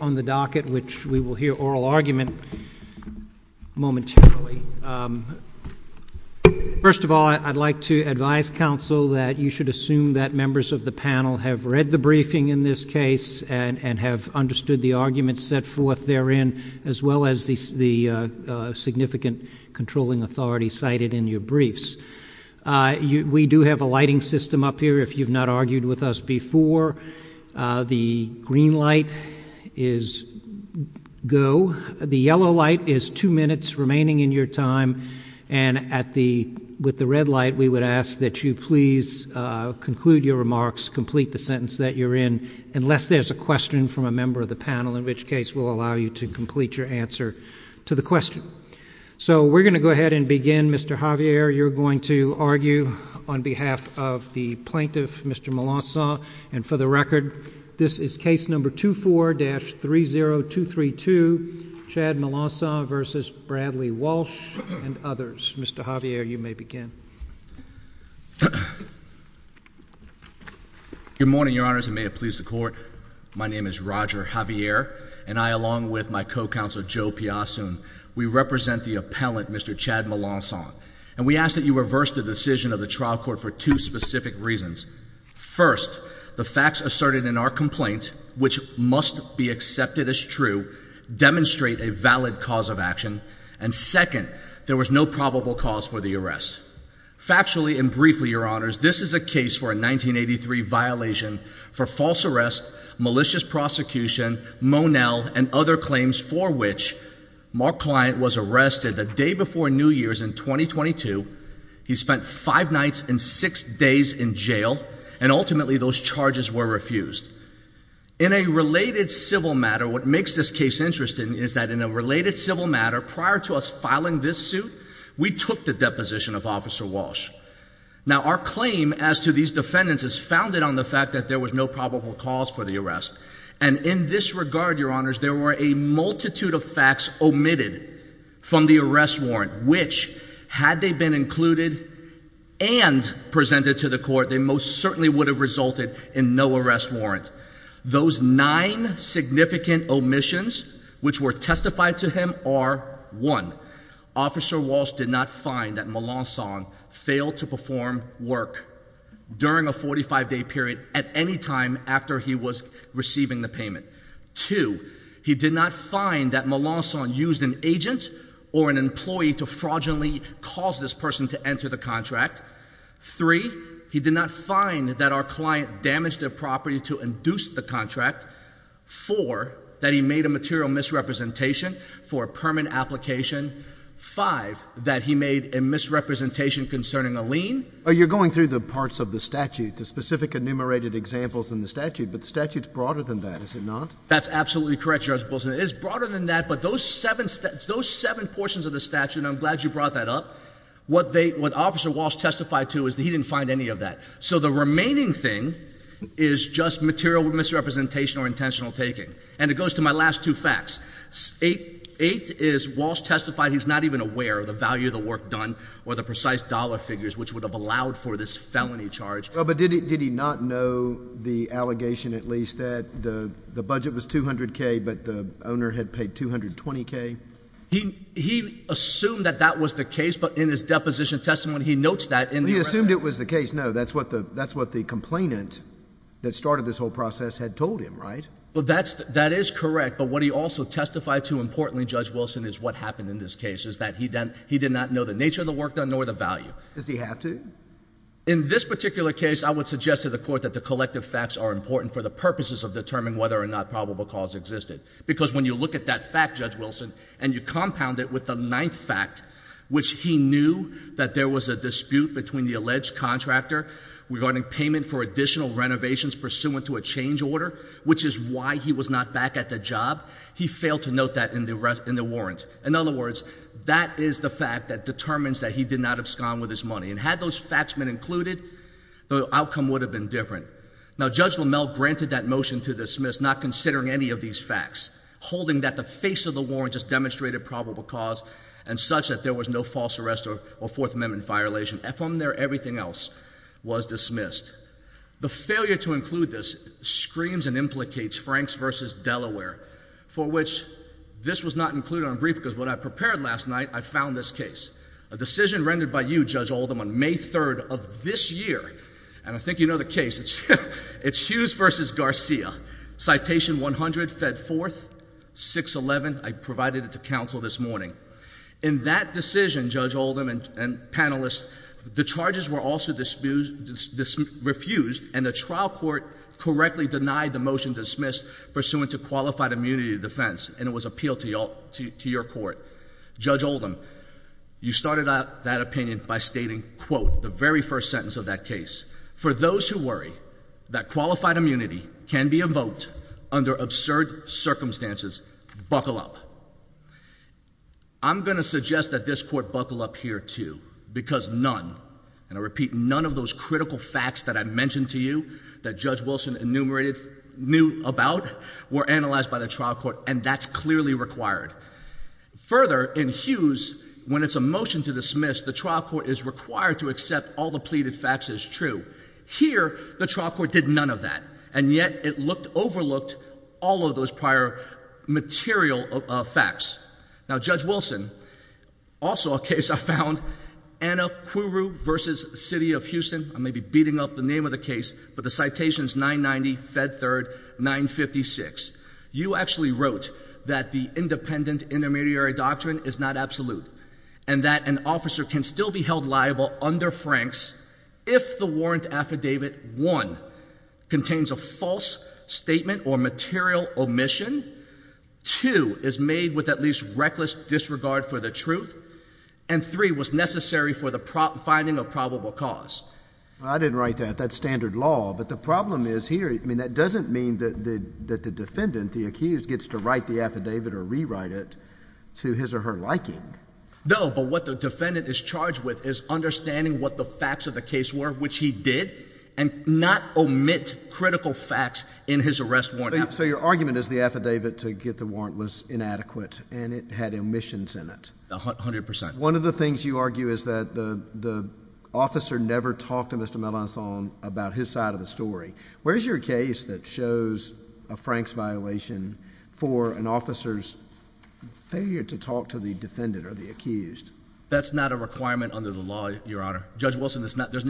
on the docket, which we will hear oral argument momentarily. First of all, I'd like to advise counsel that you should assume that members of the panel have read the briefing in this case and have understood the arguments set forth therein, as well as the significant controlling authority cited in your briefs. We do have a lighting system up here, if you've noticed, is go. The yellow light is two minutes remaining in your time, and with the red light, we would ask that you please conclude your remarks, complete the sentence that you're in, unless there's a question from a member of the panel, in which case we'll allow you to complete your answer to the question. So we're going to go ahead and begin. Mr. Javier, you're going to argue on behalf of the plaintiff, Mr. Melancon, and for the record, this is case number 24-30232, Chad Melancon v. Bradley Walsh and others. Mr. Javier, you may begin. Good morning, Your Honors, and may it please the Court. My name is Roger Javier, and I, along with my co-counsel, Joe Piasun, we represent the appellant, Mr. Chad Melancon, and we ask that you reverse the decision of the trial court for two specific reasons. First, the facts asserted in our complaint, which must be accepted as true, demonstrate a valid cause of action, and second, there was no probable cause for the arrest. Factually and briefly, Your Honors, this is a case for a 1983 violation for false arrest, malicious prosecution, Monell, and other claims for which my client was arrested the day before New Year's in 2022, he spent five nights and six days in jail, and ultimately those charges were refused. In a related civil matter, what makes this case interesting is that in a related civil matter, prior to us filing this suit, we took the deposition of Officer Walsh. Now, our claim as to these defendants is founded on the fact that there was no probable cause for the arrest, and in this regard, Your Honors, there were a multitude of facts omitted from the arrest warrant, which, had they been included and presented to the court, they most certainly would have resulted in no arrest warrant. Those nine significant omissions which were testified to him are, one, Officer Walsh did not find that Melancon failed to perform work during a 45-day period at any time after he was receiving the payment. Two, he did not find that Melancon used an agent or an employee to fraudulently cause this person to enter the contract. Three, he did not find that our client damaged their property to induce the contract. Four, that he made a material misrepresentation for a permanent application. Five, that he made a misrepresentation concerning a lien. Oh, you're going through the parts of the statute, the specific enumerated examples in the statute, but the statute's broader than that, is it not? That's absolutely correct, Judge Wilson. It is broader than that, but those seven portions of the statute, and I'm glad you brought that up, what Officer Walsh testified to is that he didn't find any of that. So the remaining thing is just material misrepresentation or intentional taking. And it goes to my last two facts. Eight is Walsh testified he's not even aware of the value of the work done or the precise dollar figures which would have allowed for this felony charge. Well, but did he not know the allegation at least that the budget was $200,000 but the owner had paid $220,000? He assumed that that was the case, but in his deposition testimony he notes that in the record. He assumed it was the case. No, that's what the complainant that started this whole process had told him, right? That is correct, but what he also testified to importantly, Judge Wilson, is what happened in this case is that he did not know the nature of the work done nor the value. Does he have to? In this particular case, I would suggest to the court that the collective facts are important for the purposes of determining whether or not probable cause existed. Because when you look at that fact, Judge Wilson, and you compound it with the ninth fact, which he knew that there was a dispute between the alleged contractor regarding payment for additional renovations pursuant to a change order, which is why he was not back at the job, he failed to note that in the warrant. In other words, that is the fact that determines that he did not abscond with his money. And had those facts been included, the outcome would have been different. Now, Judge Lamell granted that motion to dismiss, not considering any of these facts, holding that the face of the warrant just demonstrated probable cause and such that there was no false arrest or Fourth Amendment violation. From there, everything else was dismissed. The failure to include this screams and implicates Franks v. Delaware, for which this was not included on brief because what I prepared last night, I found this case. A decision rendered by you, Judge Oldham, on May 3rd of this year, and I think you know the case, it's Hughes v. Garcia, Citation 100, Fed 4th, 611, I provided it to counsel this morning. In that decision, Judge Oldham and panelists, the charges were also refused and the trial court correctly denied the motion dismissed pursuant to qualified immunity of defense and it was appealed to your court. Judge Oldham, you started out that opinion by stating, quote, the very first sentence of that case, for those who worry that qualified immunity can be invoked under absurd circumstances, buckle up. I'm going to suggest that this court buckle up here too because none, and I repeat, none of those critical facts that I mentioned to you that Judge Wilson enumerated, knew about were analyzed by the trial court and that's clearly required. Further, in Hughes, when it's a motion to dismiss, the trial court is required to accept all the pleaded facts as true. Here, the trial court did none of that and yet it overlooked all of those prior material facts. Now, Judge Wilson, also a case I found, Anacuru v. City of Houston, I may be beating up the case, but the citations 990, Fed Third, 956, you actually wrote that the independent intermediary doctrine is not absolute and that an officer can still be held liable under Franks if the warrant affidavit, one, contains a false statement or material omission, two, is made with at least reckless disregard for the truth, and three, was necessary for the finding of probable cause. I didn't write that. I didn't write that standard law, but the problem is here, I mean, that doesn't mean that the defendant, the accused, gets to write the affidavit or rewrite it to his or her liking. No, but what the defendant is charged with is understanding what the facts of the case were, which he did, and not omit critical facts in his arrest warrant. So your argument is the affidavit to get the warrant was inadequate and it had omissions in it? A hundred percent. One of the things you argue is that the officer never talked to Mr. Melanzon about his side of the story. Where's your case that shows a Franks violation for an officer's failure to talk to the defendant or the accused? That's not a requirement under the law, Your Honor. Judge Wilson,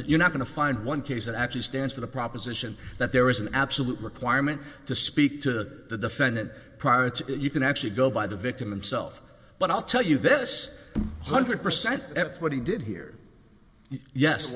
you're not going to find one case that actually stands for the proposition that there is an absolute requirement to speak to the defendant prior to, you can actually go by the victim himself. But I'll tell you this, a hundred percent. That's what he did here. Yes,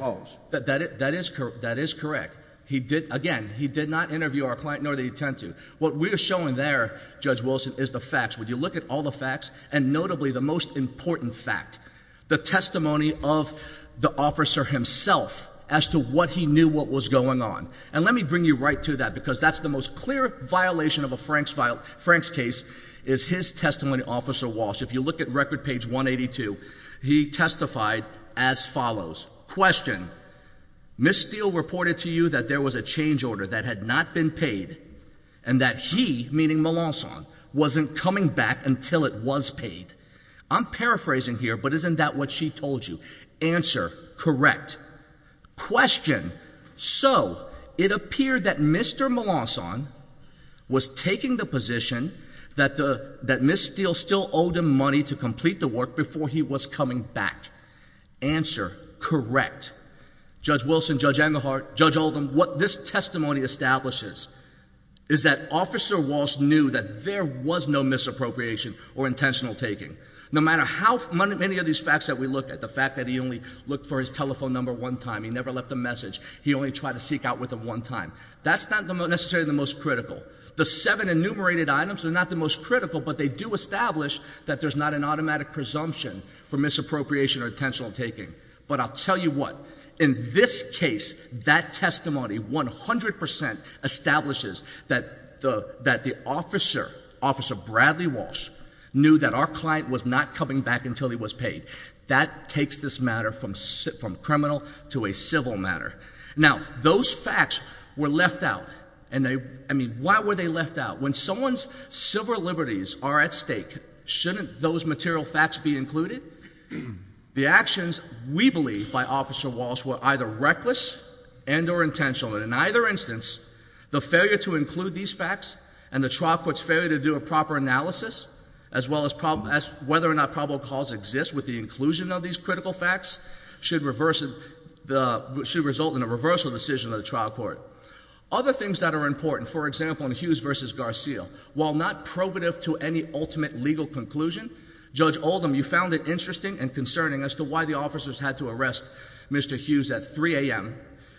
that is correct. He did, again, he did not interview our client, nor did he intend to. What we're showing there, Judge Wilson, is the facts. When you look at all the facts, and notably the most important fact, the testimony of the officer himself as to what he knew what was going on. And let me bring you right to that because that's the most clear violation of a Franks case is his testimony, Officer Walsh. If you look at record page 182, he testified as follows, question, Ms. Steele reported to you that there was a change order that had not been paid and that he, meaning Melanzon, wasn't coming back until it was paid. I'm paraphrasing here, but isn't that what she told you? Answer, correct. Question, so it appeared that Mr. Melanzon was taking the position that Ms. Steele still owed him money to complete the work before he was coming back. Answer, correct. Judge Wilson, Judge Engelhardt, Judge Oldham, what this testimony establishes is that Officer Walsh knew that there was no misappropriation or intentional taking. No matter how many of these facts that we look at, the fact that he only looked for his telephone number one time, he never left a message, he only tried to seek out with him one time, that's not necessarily the most critical. The seven enumerated items are not the most critical, but they do establish that there's not an automatic presumption for misappropriation or intentional taking. But I'll tell you what, in this case, that testimony 100% establishes that the officer, Officer Bradley Walsh, knew that our client was not coming back until he was paid. That takes this matter from criminal to a civil matter. Now, those facts were left out, and they, I mean, why were they left out? When someone's civil liberties are at stake, shouldn't those material facts be included? The actions, we believe, by Officer Walsh were either reckless and or intentional, and in either instance, the failure to include these facts and the trial court's failure to do a proper analysis, as well as whether or not probable cause exists with the inclusion of these critical facts, should result in a reversal decision of the trial court. Other things that are important, for example, in Hughes v. Garcia, while not probative to any ultimate legal conclusion, Judge Oldham, you found it interesting and concerning as to why the officers had to arrest Mr. Hughes at 3 a.m.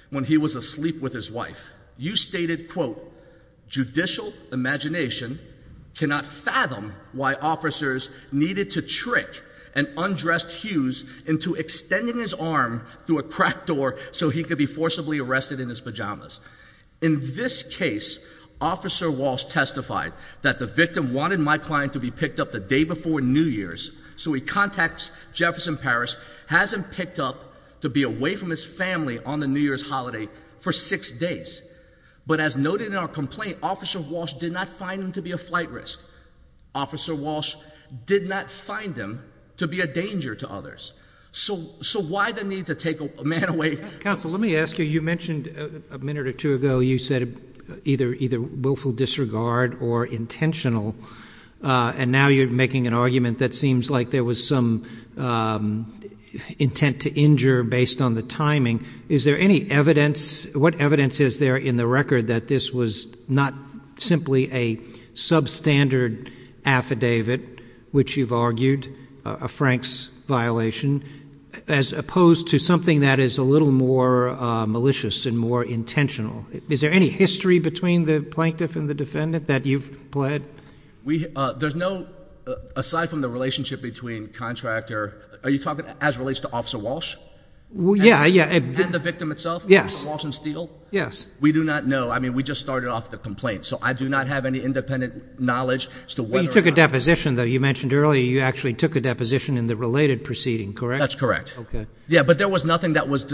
when he was asleep with his wife. You stated, quote, judicial imagination cannot fathom why officers needed to trick an undressed Hughes into extending his arm through a cracked door so he could be forcibly arrested in his pajamas. In this case, Officer Walsh testified that the victim wanted my client to be picked up the day before New Year's, so he contacts Jefferson Parish, has him picked up to be away from his family on the New Year's holiday for six days. But as noted in our complaint, Officer Walsh did not find him to be a flight risk. Officer Walsh did not find him to be a danger to others. So why the need to take a man away? Counsel, let me ask you, you mentioned a minute or two ago, you said either willful disregard or intentional. And now you're making an argument that seems like there was some intent to injure based on the timing. Is there any evidence, what evidence is there in the record that this was not simply a substandard affidavit, which you've argued, a Franks violation, as opposed to something that is a little more malicious and more intentional? Is there any history between the plaintiff and the defendant that you've pled? There's no, aside from the relationship between contractor, are you talking as it relates to Officer Walsh? Yeah, yeah. And the victim itself, Walsh and Steele? Yes. We do not know. I mean, we just started off the complaint. So I do not have any independent knowledge as to whether or not- But you took a deposition, though. You mentioned earlier, you actually took a deposition in the related proceeding, correct? That's correct. Okay. Yeah, but there was nothing that was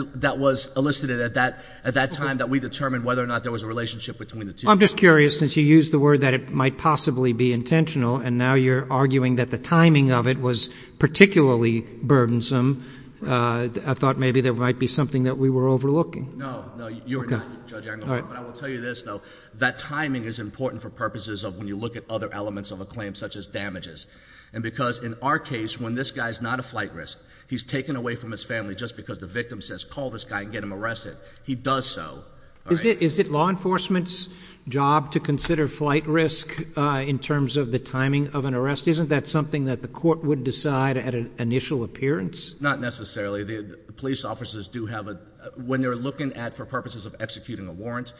elicited at that time that we determined whether or not there was a relationship between the two. I'm just curious, since you used the word that it might possibly be intentional, and now you're arguing that the timing of it was particularly burdensome. I thought maybe there might be something that we were overlooking. No, no, you are not, Judge Anglehorn, but I will tell you this, though. That timing is important for purposes of when you look at other elements of a claim, such as damages. And because in our case, when this guy's not a flight risk, he's taken away from his family just because the victim says, call this guy and get him arrested. He does so. Is it law enforcement's job to consider flight risk in terms of the timing of an arrest? Isn't that something that the court would decide at an initial appearance? Not necessarily. The police officers do have a, when they're looking at, for purposes of executing a warrant,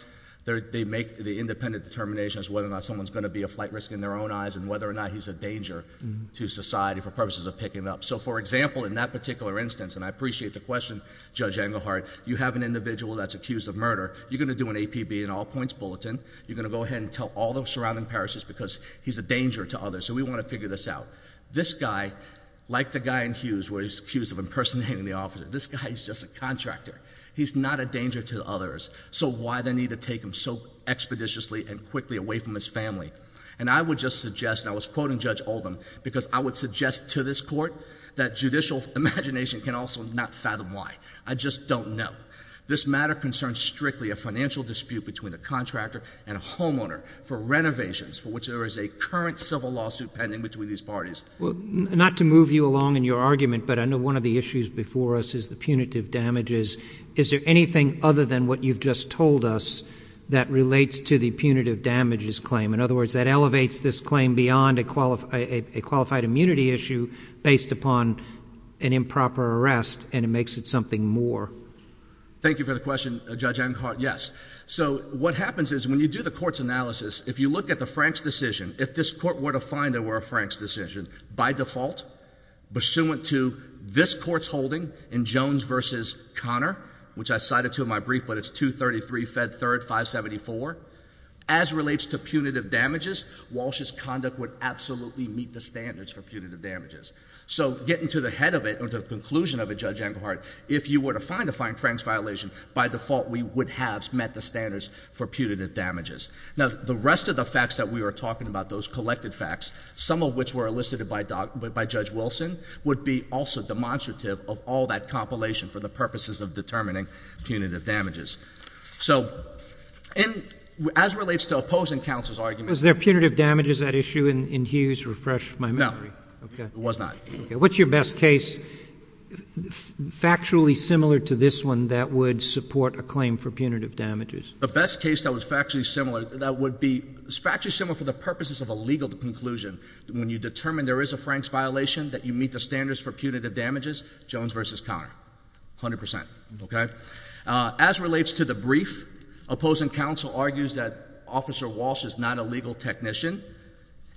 they make the independent determinations whether or not someone's going to be a flight risk in their own eyes, and whether or not he's a danger to society for purposes of picking up. So for example, in that particular instance, and I appreciate the question, Judge Anglehart, you have an individual that's accused of murder. You're going to do an APB, an all points bulletin. You're going to go ahead and tell all the surrounding parishes because he's a danger to others. So we want to figure this out. This guy, like the guy in Hughes, where he's accused of impersonating the officer, this guy is just a contractor. He's not a danger to others. So why the need to take him so expeditiously and quickly away from his family? And I would just suggest, and I was quoting Judge Oldham, because I would suggest to this court that judicial imagination can also not fathom why. I just don't know. This matter concerns strictly a financial dispute between a contractor and a homeowner for renovations for which there is a current civil lawsuit pending between these parties. Well, not to move you along in your argument, but I know one of the issues before us is the punitive damages. Is there anything other than what you've just told us that relates to the punitive damages claim? In other words, that elevates this claim beyond a qualified immunity issue based upon an improper arrest and it makes it something more. Thank you for the question, Judge Anglehart, yes. So what happens is when you do the court's analysis, if you look at the Frank's decision, if this court were to find there were a Frank's decision, by default, pursuant to this court's holding in Jones versus Connor, which I cited to in my brief, but it's 233 Fed 3rd 574, as relates to punitive damages, Walsh's conduct would absolutely meet the standards for punitive damages. So getting to the head of it, or the conclusion of it, Judge Anglehart, if you were to find a Frank's violation, by default we would have met the standards for punitive damages. Now, the rest of the facts that we were talking about, those collected facts, some of which were elicited by Judge Wilson, would be also demonstrative of all that compilation for the purposes of determining punitive damages. So, as it relates to opposing counsel's argument- Was there punitive damages at issue in Hughes? Refresh my memory. No, it was not. What's your best case, factually similar to this one, that would support a claim for punitive damages? The best case that was factually similar, that would be, is factually similar for the purposes of a legal conclusion. When you determine there is a Frank's violation, that you meet the standards for punitive damages, Jones versus Connor, 100%, okay? As relates to the brief, opposing counsel argues that Officer Walsh is not a legal technician,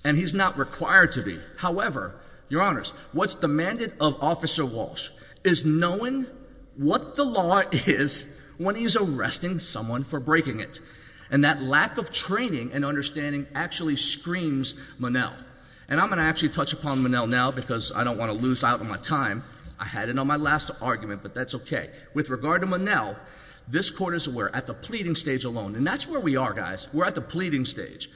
and he's not required to be. However, your honors, what's demanded of Officer Walsh is knowing what the law is when he's arresting someone for breaking it. And that lack of training and understanding actually screams Monell. And I'm going to actually touch upon Monell now, because I don't want to lose out on my time. I had it on my last argument, but that's okay. With regard to Monell, this court is aware, at the pleading stage alone, and that's where we are, guys. We're at the pleading stage.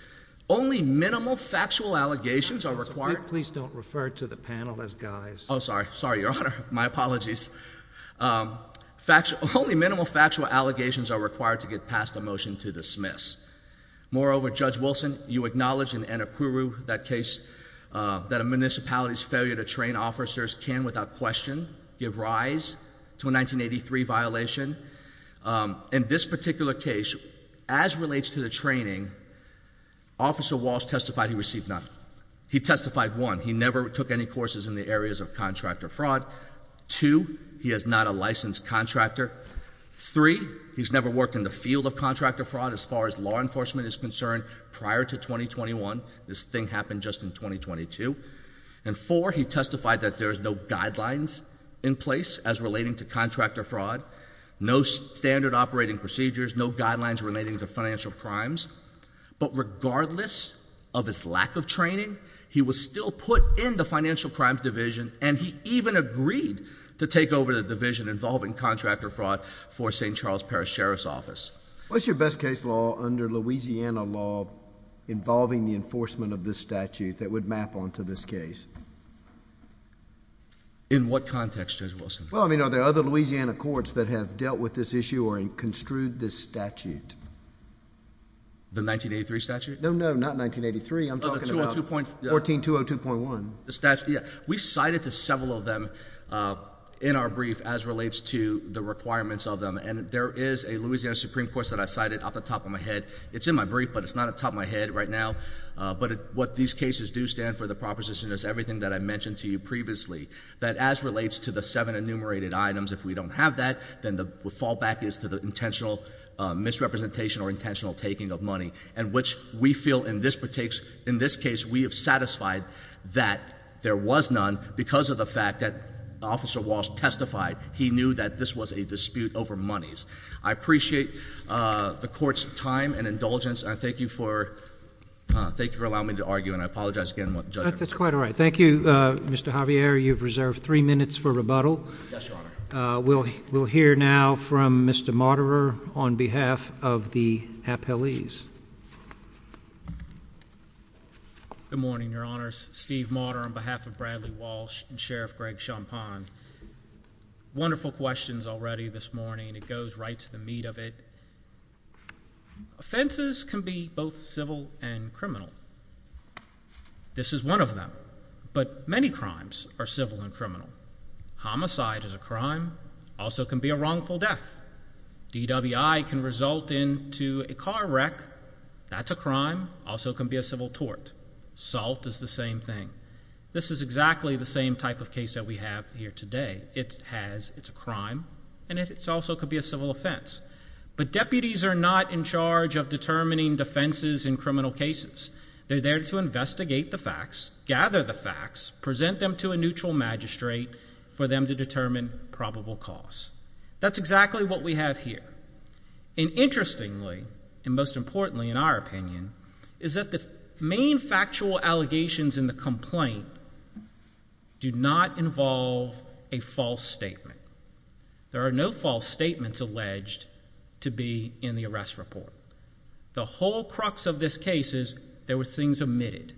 Only minimal factual allegations are required- Please don't refer to the panel as guys. Sorry, sorry, your honor, my apologies. Only minimal factual allegations are required to get passed a motion to dismiss. Moreover, Judge Wilson, you acknowledge in Anakuru, that case, that a municipality's failure to train officers can, without question, give rise to a 1983 violation. In this particular case, as relates to the training, Officer Walsh testified he received none. He testified one, he never took any courses in the areas of contractor fraud. Two, he is not a licensed contractor. Three, he's never worked in the field of contractor fraud as far as law enforcement is concerned prior to 2021. This thing happened just in 2022. And four, he testified that there's no guidelines in place as relating to contractor fraud. No standard operating procedures, no guidelines relating to financial crimes. But regardless of his lack of training, he was still put in the financial crimes division, and he even agreed to take over the division involving contractor fraud for St. Charles Parish Sheriff's Office. What's your best case law under Louisiana law involving the enforcement of this statute that would map onto this case? In what context, Judge Wilson? Well, I mean, are there other Louisiana courts that have dealt with this issue or construed this statute? The 1983 statute? No, no, not 1983, I'm talking about 14202.1. The statute, yeah. We cited to several of them in our brief as relates to the requirements of them, and there is a Louisiana Supreme Court that I cited off the top of my head. It's in my brief, but it's not at the top of my head right now. But what these cases do stand for, the proposition is everything that I mentioned to you previously. That as relates to the seven enumerated items, if we don't have that, then the fallback is to the intentional misrepresentation or intentional taking of money. And which we feel in this case, we have satisfied that there was none, because of the fact that Officer Walsh testified he knew that this was a dispute over monies. I appreciate the court's time and indulgence, and I thank you for allowing me to argue. And I apologize again, Judge. That's quite all right. Thank you, Mr. Javier. You've reserved three minutes for rebuttal. Yes, Your Honor. We'll hear now from Mr. Motterer on behalf of the appellees. Good morning, Your Honors. Steve Motterer on behalf of Bradley Walsh and Sheriff Greg Champagne. Wonderful questions already this morning. It goes right to the meat of it. Offenses can be both civil and criminal. This is one of them. But many crimes are civil and criminal. Homicide is a crime. Also can be a wrongful death. DWI can result into a car wreck. That's a crime. Also can be a civil tort. Assault is the same thing. This is exactly the same type of case that we have here today. It has, it's a crime, and it also could be a civil offense. But deputies are not in charge of determining defenses in criminal cases. They're there to investigate the facts, gather the facts, present them to a neutral magistrate for them to determine probable cause. That's exactly what we have here. And interestingly, and most importantly in our opinion, is that the main factual allegations in the complaint do not involve a false statement. There are no false statements alleged to be in the arrest report. The whole crux of this case is there were things omitted.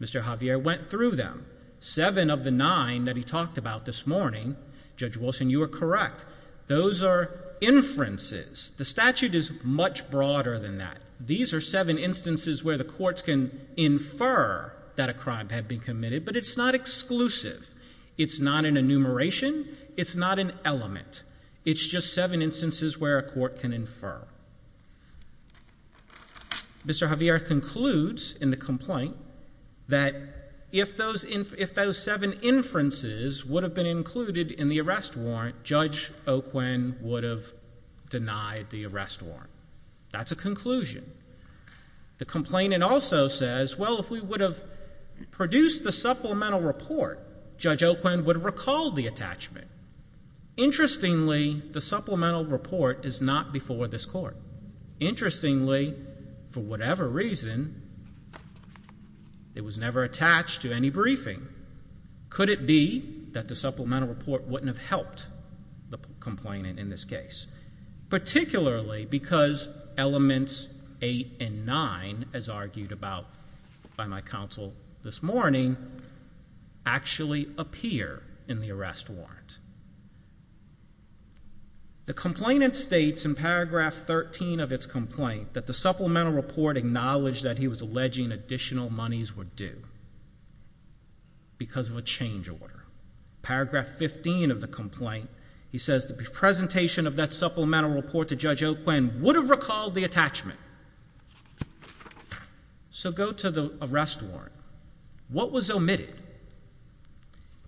Mr. Javier went through them. Seven of the nine that he talked about this morning, Judge Wilson, you are correct. Those are inferences. The statute is much broader than that. These are seven instances where the courts can infer that a crime had been committed. But it's not exclusive. It's not an enumeration. It's not an element. It's just seven instances where a court can infer. Mr. Javier concludes in the complaint that if those seven inferences would have been included in the arrest warrant, Judge Oquen would have denied the arrest warrant. That's a conclusion. The complainant also says, well, if we would have produced the supplemental report, Judge Oquen would have recalled the attachment. Interestingly, the supplemental report is not before this court. Interestingly, for whatever reason, it was never attached to any briefing. Could it be that the supplemental report wouldn't have helped the complainant in this case? Particularly because elements eight and nine, as argued about by my counsel this morning, actually appear in the arrest warrant. The complainant states in paragraph 13 of its complaint that the supplemental report acknowledged that he was alleging additional monies were due because of a change order. Paragraph 15 of the complaint, he says the presentation of that supplemental report to Judge Oquen would have recalled the attachment. So go to the arrest warrant. What was omitted?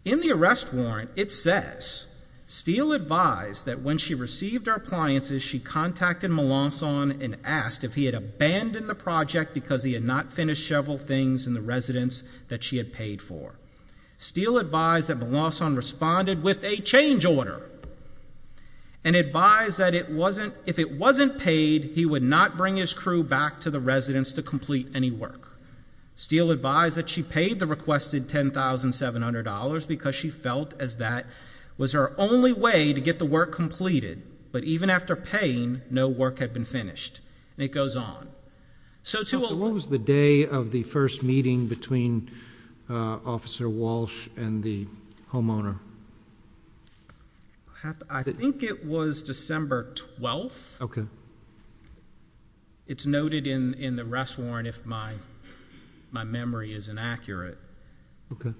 In the arrest warrant, it says, Steele advised that when she received her appliances, she contacted Melanson and asked if he had abandoned the project because he had not finished several things in the residence that she had paid for. Steele advised that Melanson responded with a change order and advised that if it wasn't paid, he would not bring his crew back to the residence to complete any work. Steele advised that she paid the requested $10,700 because she felt as that was her only way to get the work completed. But even after paying, no work had been finished. And it goes on. So to a- What was the day of the first meeting between Officer Walsh and the homeowner? I think it was December 12th. OK. It's noted in the arrest warrant if my memory is inaccurate. OK.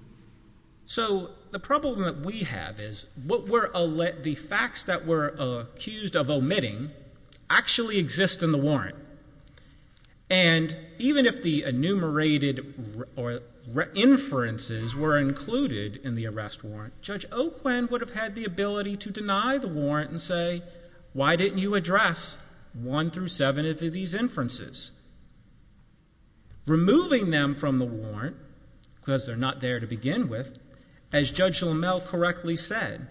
So the problem that we have is the facts that we're accused of omitting actually exist in the warrant. And even if the enumerated inferences were included in the arrest warrant, Judge Oquen would have had the ability to deny the warrant and say, why didn't you address one through seven of these inferences? Removing them from the warrant, because they're not there to begin with, as Judge Lammel correctly said,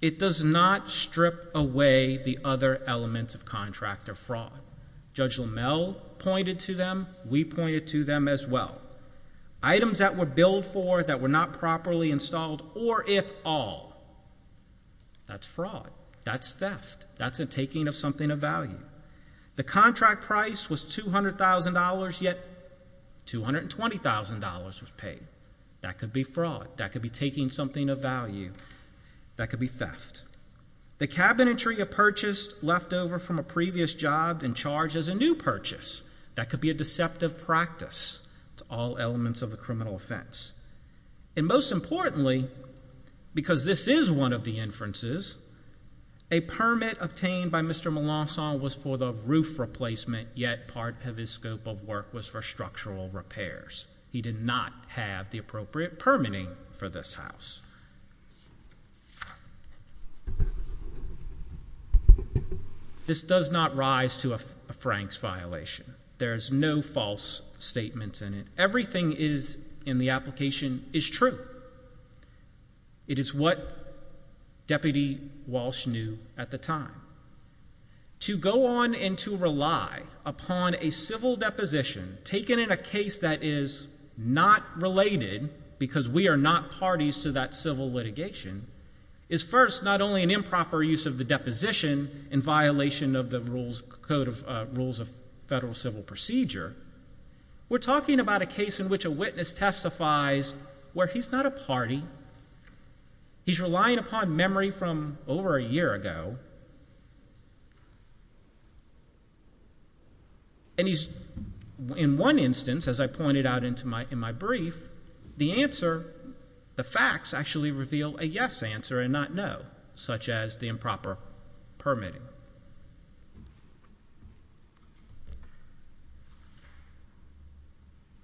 it does not strip away the other elements of contractor fraud. Judge Lammel pointed to them. We pointed to them as well. Items that were billed for that were not properly installed, or if all, that's fraud. That's theft. That's a taking of something of value. The contract price was $200,000, yet $220,000 was paid. That could be fraud. That could be taking something of value. That could be theft. The cabinetry of purchase left over from a previous job and charged as a new purchase. That could be a deceptive practice to all elements of the criminal offense. And most importantly, because this is one of the inferences, a permit obtained by Mr. Melanson was for the roof replacement, yet part of his scope of work was for structural repairs. He did not have the appropriate permitting for this house. This does not rise to a Frank's violation. There's no false statements in it. Everything is in the application is true. It is what Deputy Walsh knew at the time. To go on and to rely upon a civil deposition taken in a case that is not related, because we are not parties to that civil litigation, is first not only an improper use of the deposition in violation of the rules, Code of Rules of Federal Civil Procedure. We're talking about a case in which a witness testifies where he's not a party. He's relying upon memory from over a year ago. And he's, in one instance, as I pointed out in my brief, the answer, the facts, actually reveal a yes answer and not no, such as the improper permitting.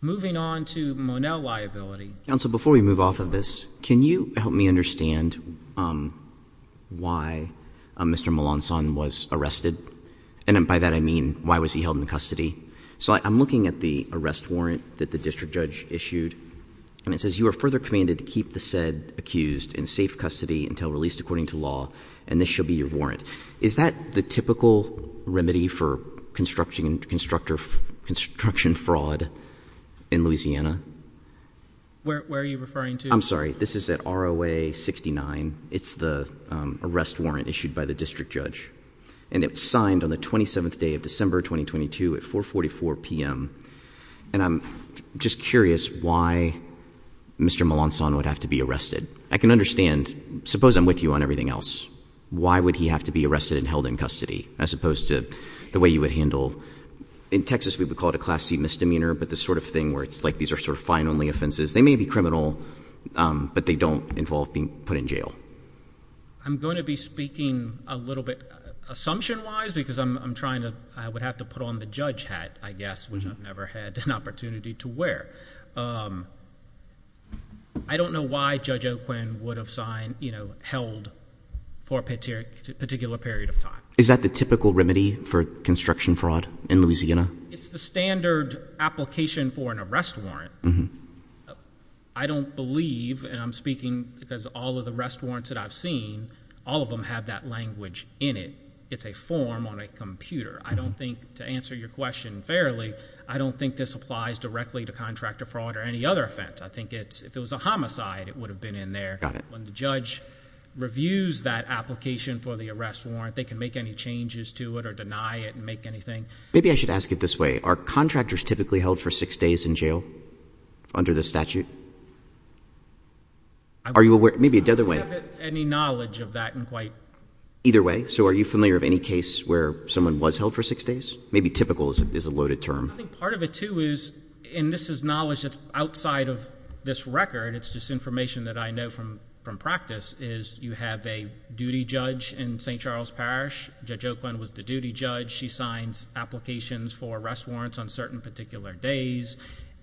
Moving on to Monell liability. Counsel, before we move off of this, can you help me understand why Mr. Molanson was arrested? And by that I mean, why was he held in custody? So I'm looking at the arrest warrant that the district judge issued. And it says you are further commanded to keep the said accused in safe custody until released according to law. And this should be your warrant. Is that the typical remedy for construction fraud in Louisiana? Where are you referring to? I'm sorry, this is at ROA 69. It's the arrest warrant issued by the district judge. And it's signed on the 27th day of December 2022 at 444 PM. And I'm just curious why Mr. Molanson would have to be arrested. I can understand, suppose I'm with you on everything else. Why would he have to be arrested and held in custody as opposed to the way you would handle. In Texas, we would call it a class C misdemeanor, but the sort of thing where it's like these are sort of fine only offenses. They may be criminal, but they don't involve being put in jail. I'm going to be speaking a little bit assumption-wise because I'm trying to, I would have to put on the judge hat, I guess, which I've never had an opportunity to wear. I don't know why Judge O'Quinn would have held for a particular period of time. Is that the typical remedy for construction fraud in Louisiana? It's the standard application for an arrest warrant. I don't believe, and I'm speaking because all of the rest warrants that I've seen, all of them have that language in it. It's a form on a computer. I don't think, to answer your question fairly, I don't think this applies directly to contractor fraud or any other offense. I think if it was a homicide, it would have been in there. Got it. When the judge reviews that application for the arrest warrant, they can make any changes to it or deny it and make anything. Maybe I should ask it this way. Are contractors typically held for six days in jail under this statute? Are you aware, maybe the other way? I don't have any knowledge of that in quite. Either way? So are you familiar of any case where someone was held for six days? Maybe typical is a loaded term. I think part of it, too, is, and this is knowledge that's outside of this record. It's just information that I know from practice, is you have a duty judge in St. Charles Parish. Judge O'Quinn was the duty judge. She signs applications for arrest warrants on certain particular days.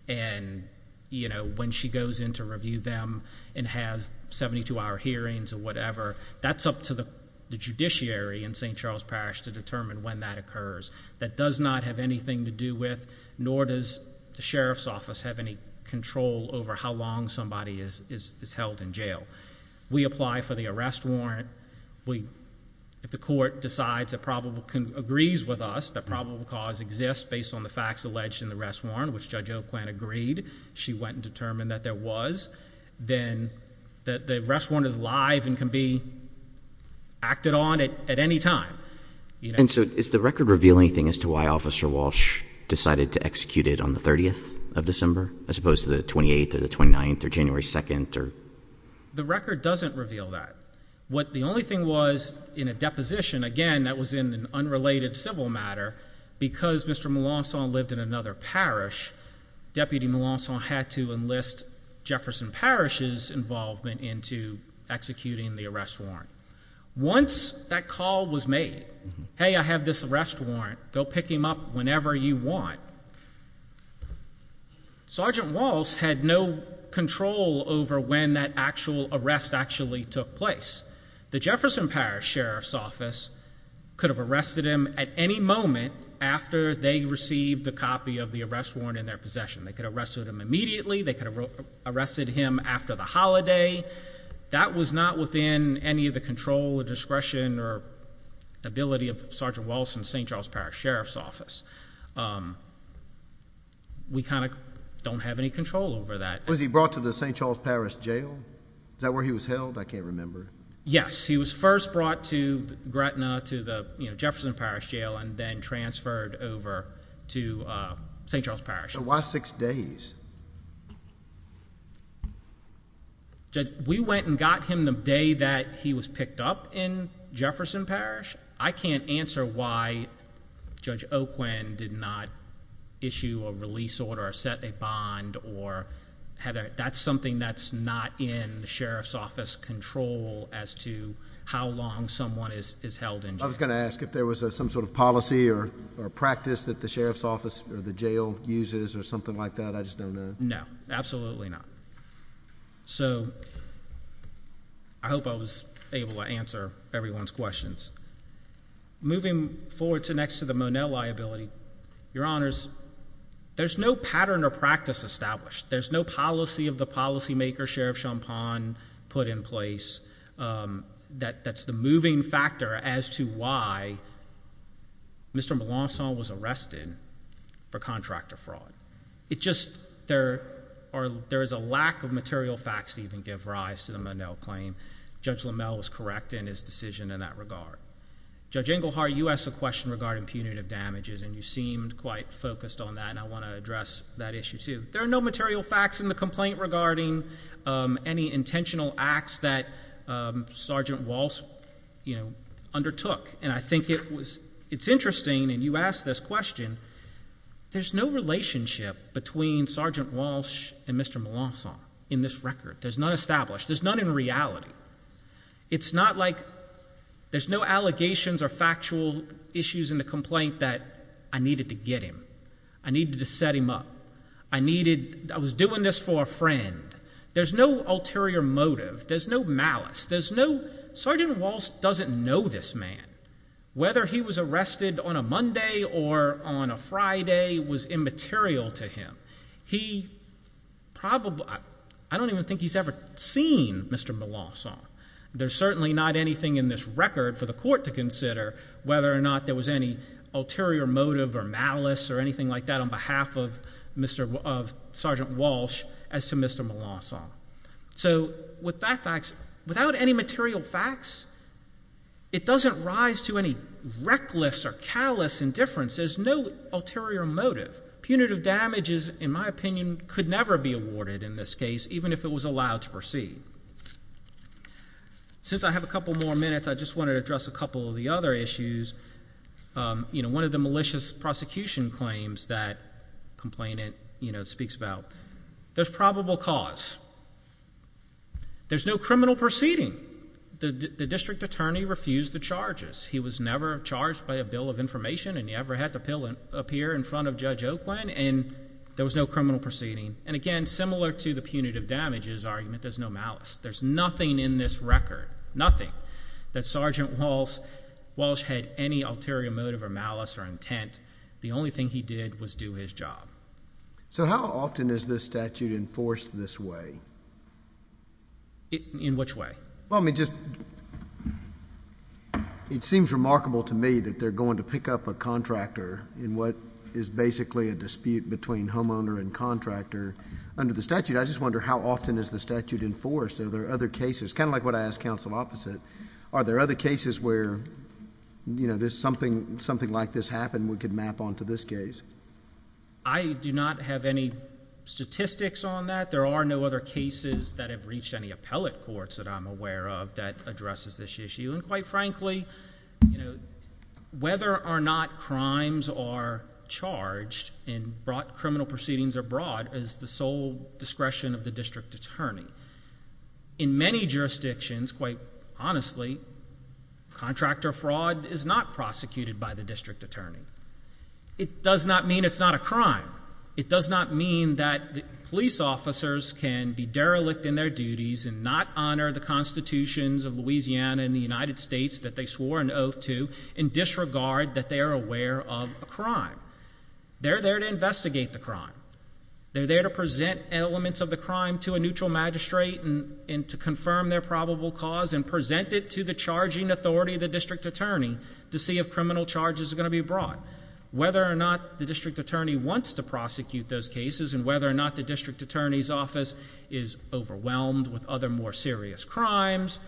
And when she goes in to review them and has 72-hour hearings or whatever, that's up to the judiciary in St. Charles Parish to determine when that occurs. That does not have anything to do with, nor does the sheriff's office have any control over how long somebody is held in jail. We apply for the arrest warrant. If the court decides, agrees with us, that probable cause exists based on the facts alleged in the arrest warrant, which Judge O'Quinn agreed, she went and determined that there was, then the arrest warrant is live and can be acted on at any time. And so does the record reveal anything as to why Officer Walsh decided to execute it on the 30th of December, as opposed to the 28th or the 29th or January 2nd? The record doesn't reveal that. What the only thing was in a deposition, again, that was in an unrelated civil matter, because Mr. Moulinson lived in another parish, Deputy Moulinson had to enlist Jefferson Parish's involvement into executing the arrest warrant. Once that call was made, hey, I have this arrest warrant. Go pick him up whenever you want. Sergeant Walsh had no control over when that actual arrest actually took place. The Jefferson Parish Sheriff's Office could have arrested him at any moment after they received the copy of the arrest warrant in their possession. They could have arrested him immediately. They could have arrested him after the holiday. That was not within any of the control or discretion or ability of Sergeant Walsh and St. Charles Parish Sheriff's Office. We kind of don't have any control over that. Was he brought to the St. Charles Parish Jail? Is that where he was held? I can't remember. Yes. He was first brought to Gretna, to the Jefferson Parish Jail, and then transferred over to St. Charles Parish. So why six days? We went and got him the day that he was picked up in Jefferson Parish. I can't answer why Judge Oquin did not issue a release order or set a bond. That's something that's not in the Sheriff's Office control as to how long someone is held in jail. I was going to ask if there was some sort of policy or practice that the Sheriff's Office or the jail uses or something like that. I just don't know. No. Absolutely not. So I hope I was able to answer everyone's questions. Moving forward to next to the Monell liability, Your Honors, there's no pattern or practice established. There's no policy of the policymaker, Sheriff Champagne, put in place that's the moving factor as to why Mr. Melancon was arrested for contractor fraud. There is a lack of material facts to even give rise to the Monell claim. Judge LaMelle was correct in his decision in that regard. Judge Engelhardt, you asked a question regarding punitive damages, and you seemed quite focused on that, and I want to address that issue too. There are no material facts in the complaint regarding any intentional acts that Sergeant Walsh undertook. And I think it's interesting, and you asked this question, there's no relationship between Sergeant Walsh and Mr. Melancon in this record. There's none established. There's none in reality. It's not like there's no allegations or factual issues in the complaint that I needed to get him, I needed to set him up, I was doing this for a friend. There's no ulterior motive. There's no malice. Sergeant Walsh doesn't know this man. Whether he was arrested on a Monday or on a Friday was immaterial to him. He probably, I don't even think he's ever seen Mr. Melancon. There's certainly not anything in this record for the court to consider whether or not there was any ulterior motive or malice or anything like that on behalf of Sergeant Walsh as to Mr. Melancon. So with that fact, without any material facts, it doesn't rise to any reckless or callous indifference. There's no ulterior motive. Punitive damages, in my opinion, could never be awarded in this case, even if it was allowed to proceed. Since I have a couple more minutes, I just want to address a couple of the other issues. One of the malicious prosecution claims that the complainant speaks about, there's probable cause. There's no criminal proceeding. The district attorney refused the charges. He was never charged by a bill of information, and he never had to appear in front of Judge Oakland, and there was no criminal proceeding. And again, similar to the punitive damages argument, there's no malice. There's nothing in this record, nothing, that Sergeant Walsh had any ulterior motive or malice or intent. The only thing he did was do his job. So how often is this statute enforced this way? In which way? Well, I mean, just it seems remarkable to me that they're going to pick up a contractor in what is basically a dispute between homeowner and contractor under the statute. I just wonder how often is the statute enforced? Are there other cases? Kind of like what I asked counsel opposite. Are there other cases where, you know, something like this happened we could map onto this case? I do not have any statistics on that. There are no other cases that have reached any appellate courts that I'm aware of that addresses this issue. And quite frankly, you know, whether or not crimes are charged in criminal proceedings abroad is the sole discretion of the district attorney. In many jurisdictions, quite honestly, contractor fraud is not prosecuted by the district attorney. It does not mean it's not a crime. It does not mean that police officers can be derelict in their duties and not honor the constitutions of Louisiana and the United States that they swore an oath to and disregard that they are aware of a crime. They're there to investigate the crime. They're there to present elements of the crime to a neutral magistrate and to confirm their probable cause and present it to the charging authority of the district attorney to see if criminal charges are going to be brought. Whether or not the district attorney wants to prosecute those cases and whether or not the district attorney's office is overwhelmed with other more serious crimes,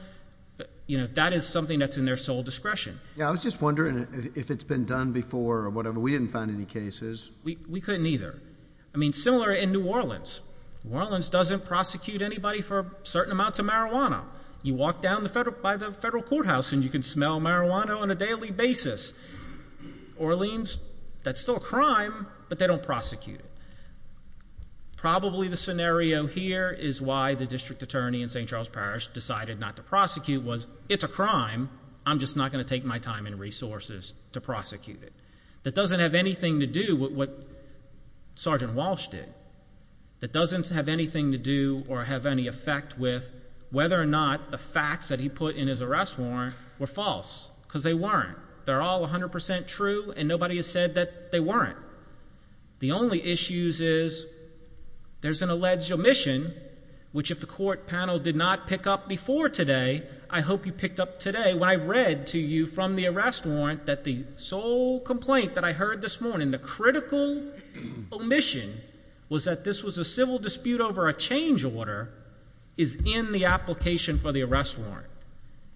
you know, that is something that's in their sole discretion. Yeah, I was just wondering if it's been done before or whatever. We didn't find any cases. We couldn't either. I mean, similar in New Orleans. New Orleans doesn't prosecute anybody for certain amounts of marijuana. You walk down by the federal courthouse and you can smell marijuana on a daily basis. Orleans, that's still a crime, but they don't prosecute it. Probably the scenario here is why the district attorney in St. Charles Parish decided not to prosecute was, it's a crime, I'm just not going to take my time and resources to prosecute it. That doesn't have anything to do with what Sergeant Walsh did. That doesn't have anything to do or have any effect with whether or not the facts that he put in his arrest warrant were false because they weren't. They're all 100% true and nobody has said that they weren't. The only issues is there's an alleged omission, which if the court panel did not pick up before today, I hope you picked up today. When I read to you from the arrest warrant that the sole complaint that I heard this morning, the critical omission, was that this was a civil dispute over a change order, is in the application for the arrest warrant.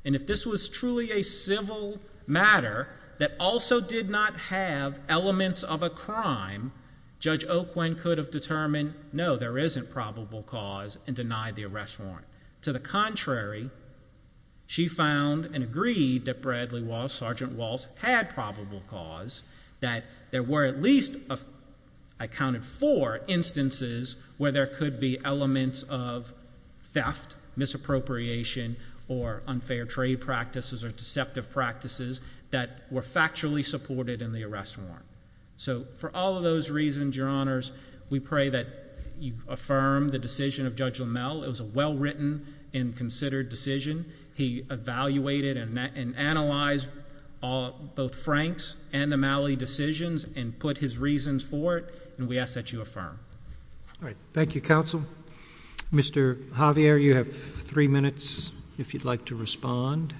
And if this was truly a civil matter that also did not have elements of a crime, Judge Oquen could have determined, no, there isn't probable cause and denied the arrest warrant. To the contrary, she found and agreed that Bradley Walsh, Sergeant Walsh, had probable cause that there were at least, I counted four, instances where there could be elements of theft, misappropriation, or unfair trade practices or deceptive practices that were factually supported in the arrest warrant. So for all of those reasons, Your Honors, we pray that you affirm the decision of Judge LaMalle. It was a well-written and considered decision. He evaluated and analyzed both Frank's and LaMalle's decisions and put his reasons for it. And we ask that you affirm. All right. Thank you, Counsel. Mr. Javier, you have three minutes if you'd like to respond.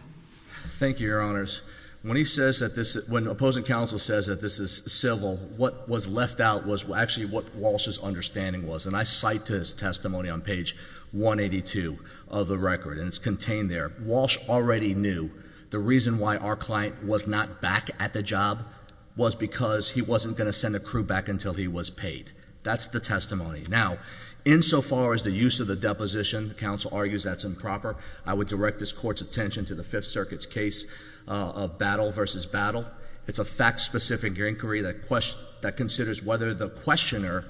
Thank you, Your Honors. When the opposing counsel says that this is civil, what was left out was actually what Walsh's understanding was. And I cite to his testimony on page 182 of the record, and it's contained there. Walsh already knew the reason why our client was not back at the job was because he wasn't going to send a crew back until he was paid. That's the testimony. Now, insofar as the use of the deposition, counsel argues that's improper, I would direct this Court's attention to the Fifth Circuit's case of battle versus battle. It's a fact-specific inquiry that considers whether the questioner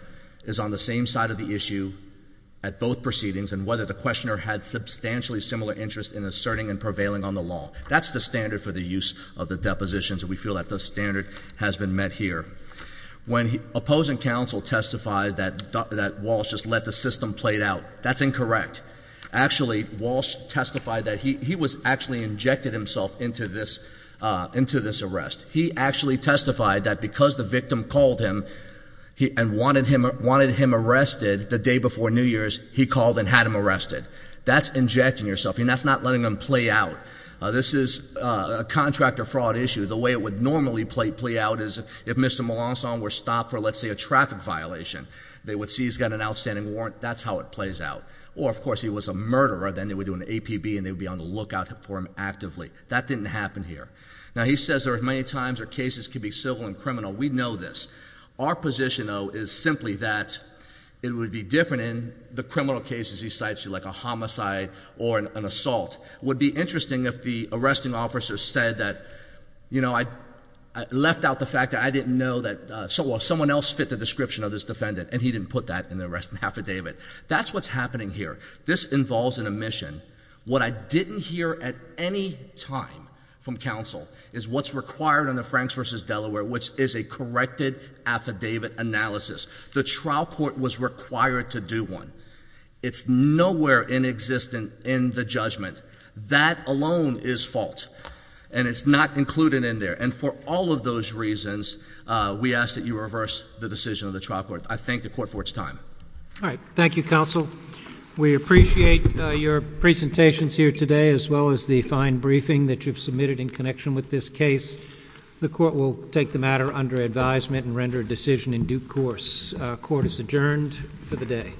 is on the same side of the issue at both proceedings and whether the questioner had substantially similar interest in asserting and prevailing on the law. That's the standard for the use of the depositions, and we feel that the standard has been met here. When opposing counsel testified that Walsh just let the system play out, that's incorrect. Actually, Walsh testified that he was actually injected himself into this arrest. He actually testified that because the victim called him and wanted him arrested the day before New Year's, he called and had him arrested. That's injecting yourself, and that's not letting them play out. This is a contractor fraud issue. The way it would normally play out is if Mr. Melanson were stopped for, let's say, a traffic violation, they would see he's got an outstanding warrant. That's how it plays out. Or, of course, he was a murderer. Then they would do an APB, and they would be on the lookout for him actively. That didn't happen here. Now, he says there are many times where cases can be civil and criminal. We know this. Our position, though, is simply that it would be different in the criminal cases he cites, like a homicide or an assault. It would be interesting if the arresting officer said that, you know, I left out the fact that I didn't know that someone else fit the description of this defendant, and he didn't put that in the arresting affidavit. That's what's happening here. This involves an omission. What I didn't hear at any time from counsel is what's required in the Franks v. Delaware, which is a corrected affidavit analysis. The trial court was required to do one. It's nowhere inexistent in the judgment. That alone is fault, and it's not included in there. And for all of those reasons, we ask that you reverse the decision of the trial court. I thank the court for its time. All right. Thank you, counsel. We appreciate your presentations here today as well as the fine briefing that you've submitted in connection with this case. The court will take the matter under advisement and render a decision in due course. Court is adjourned for the day.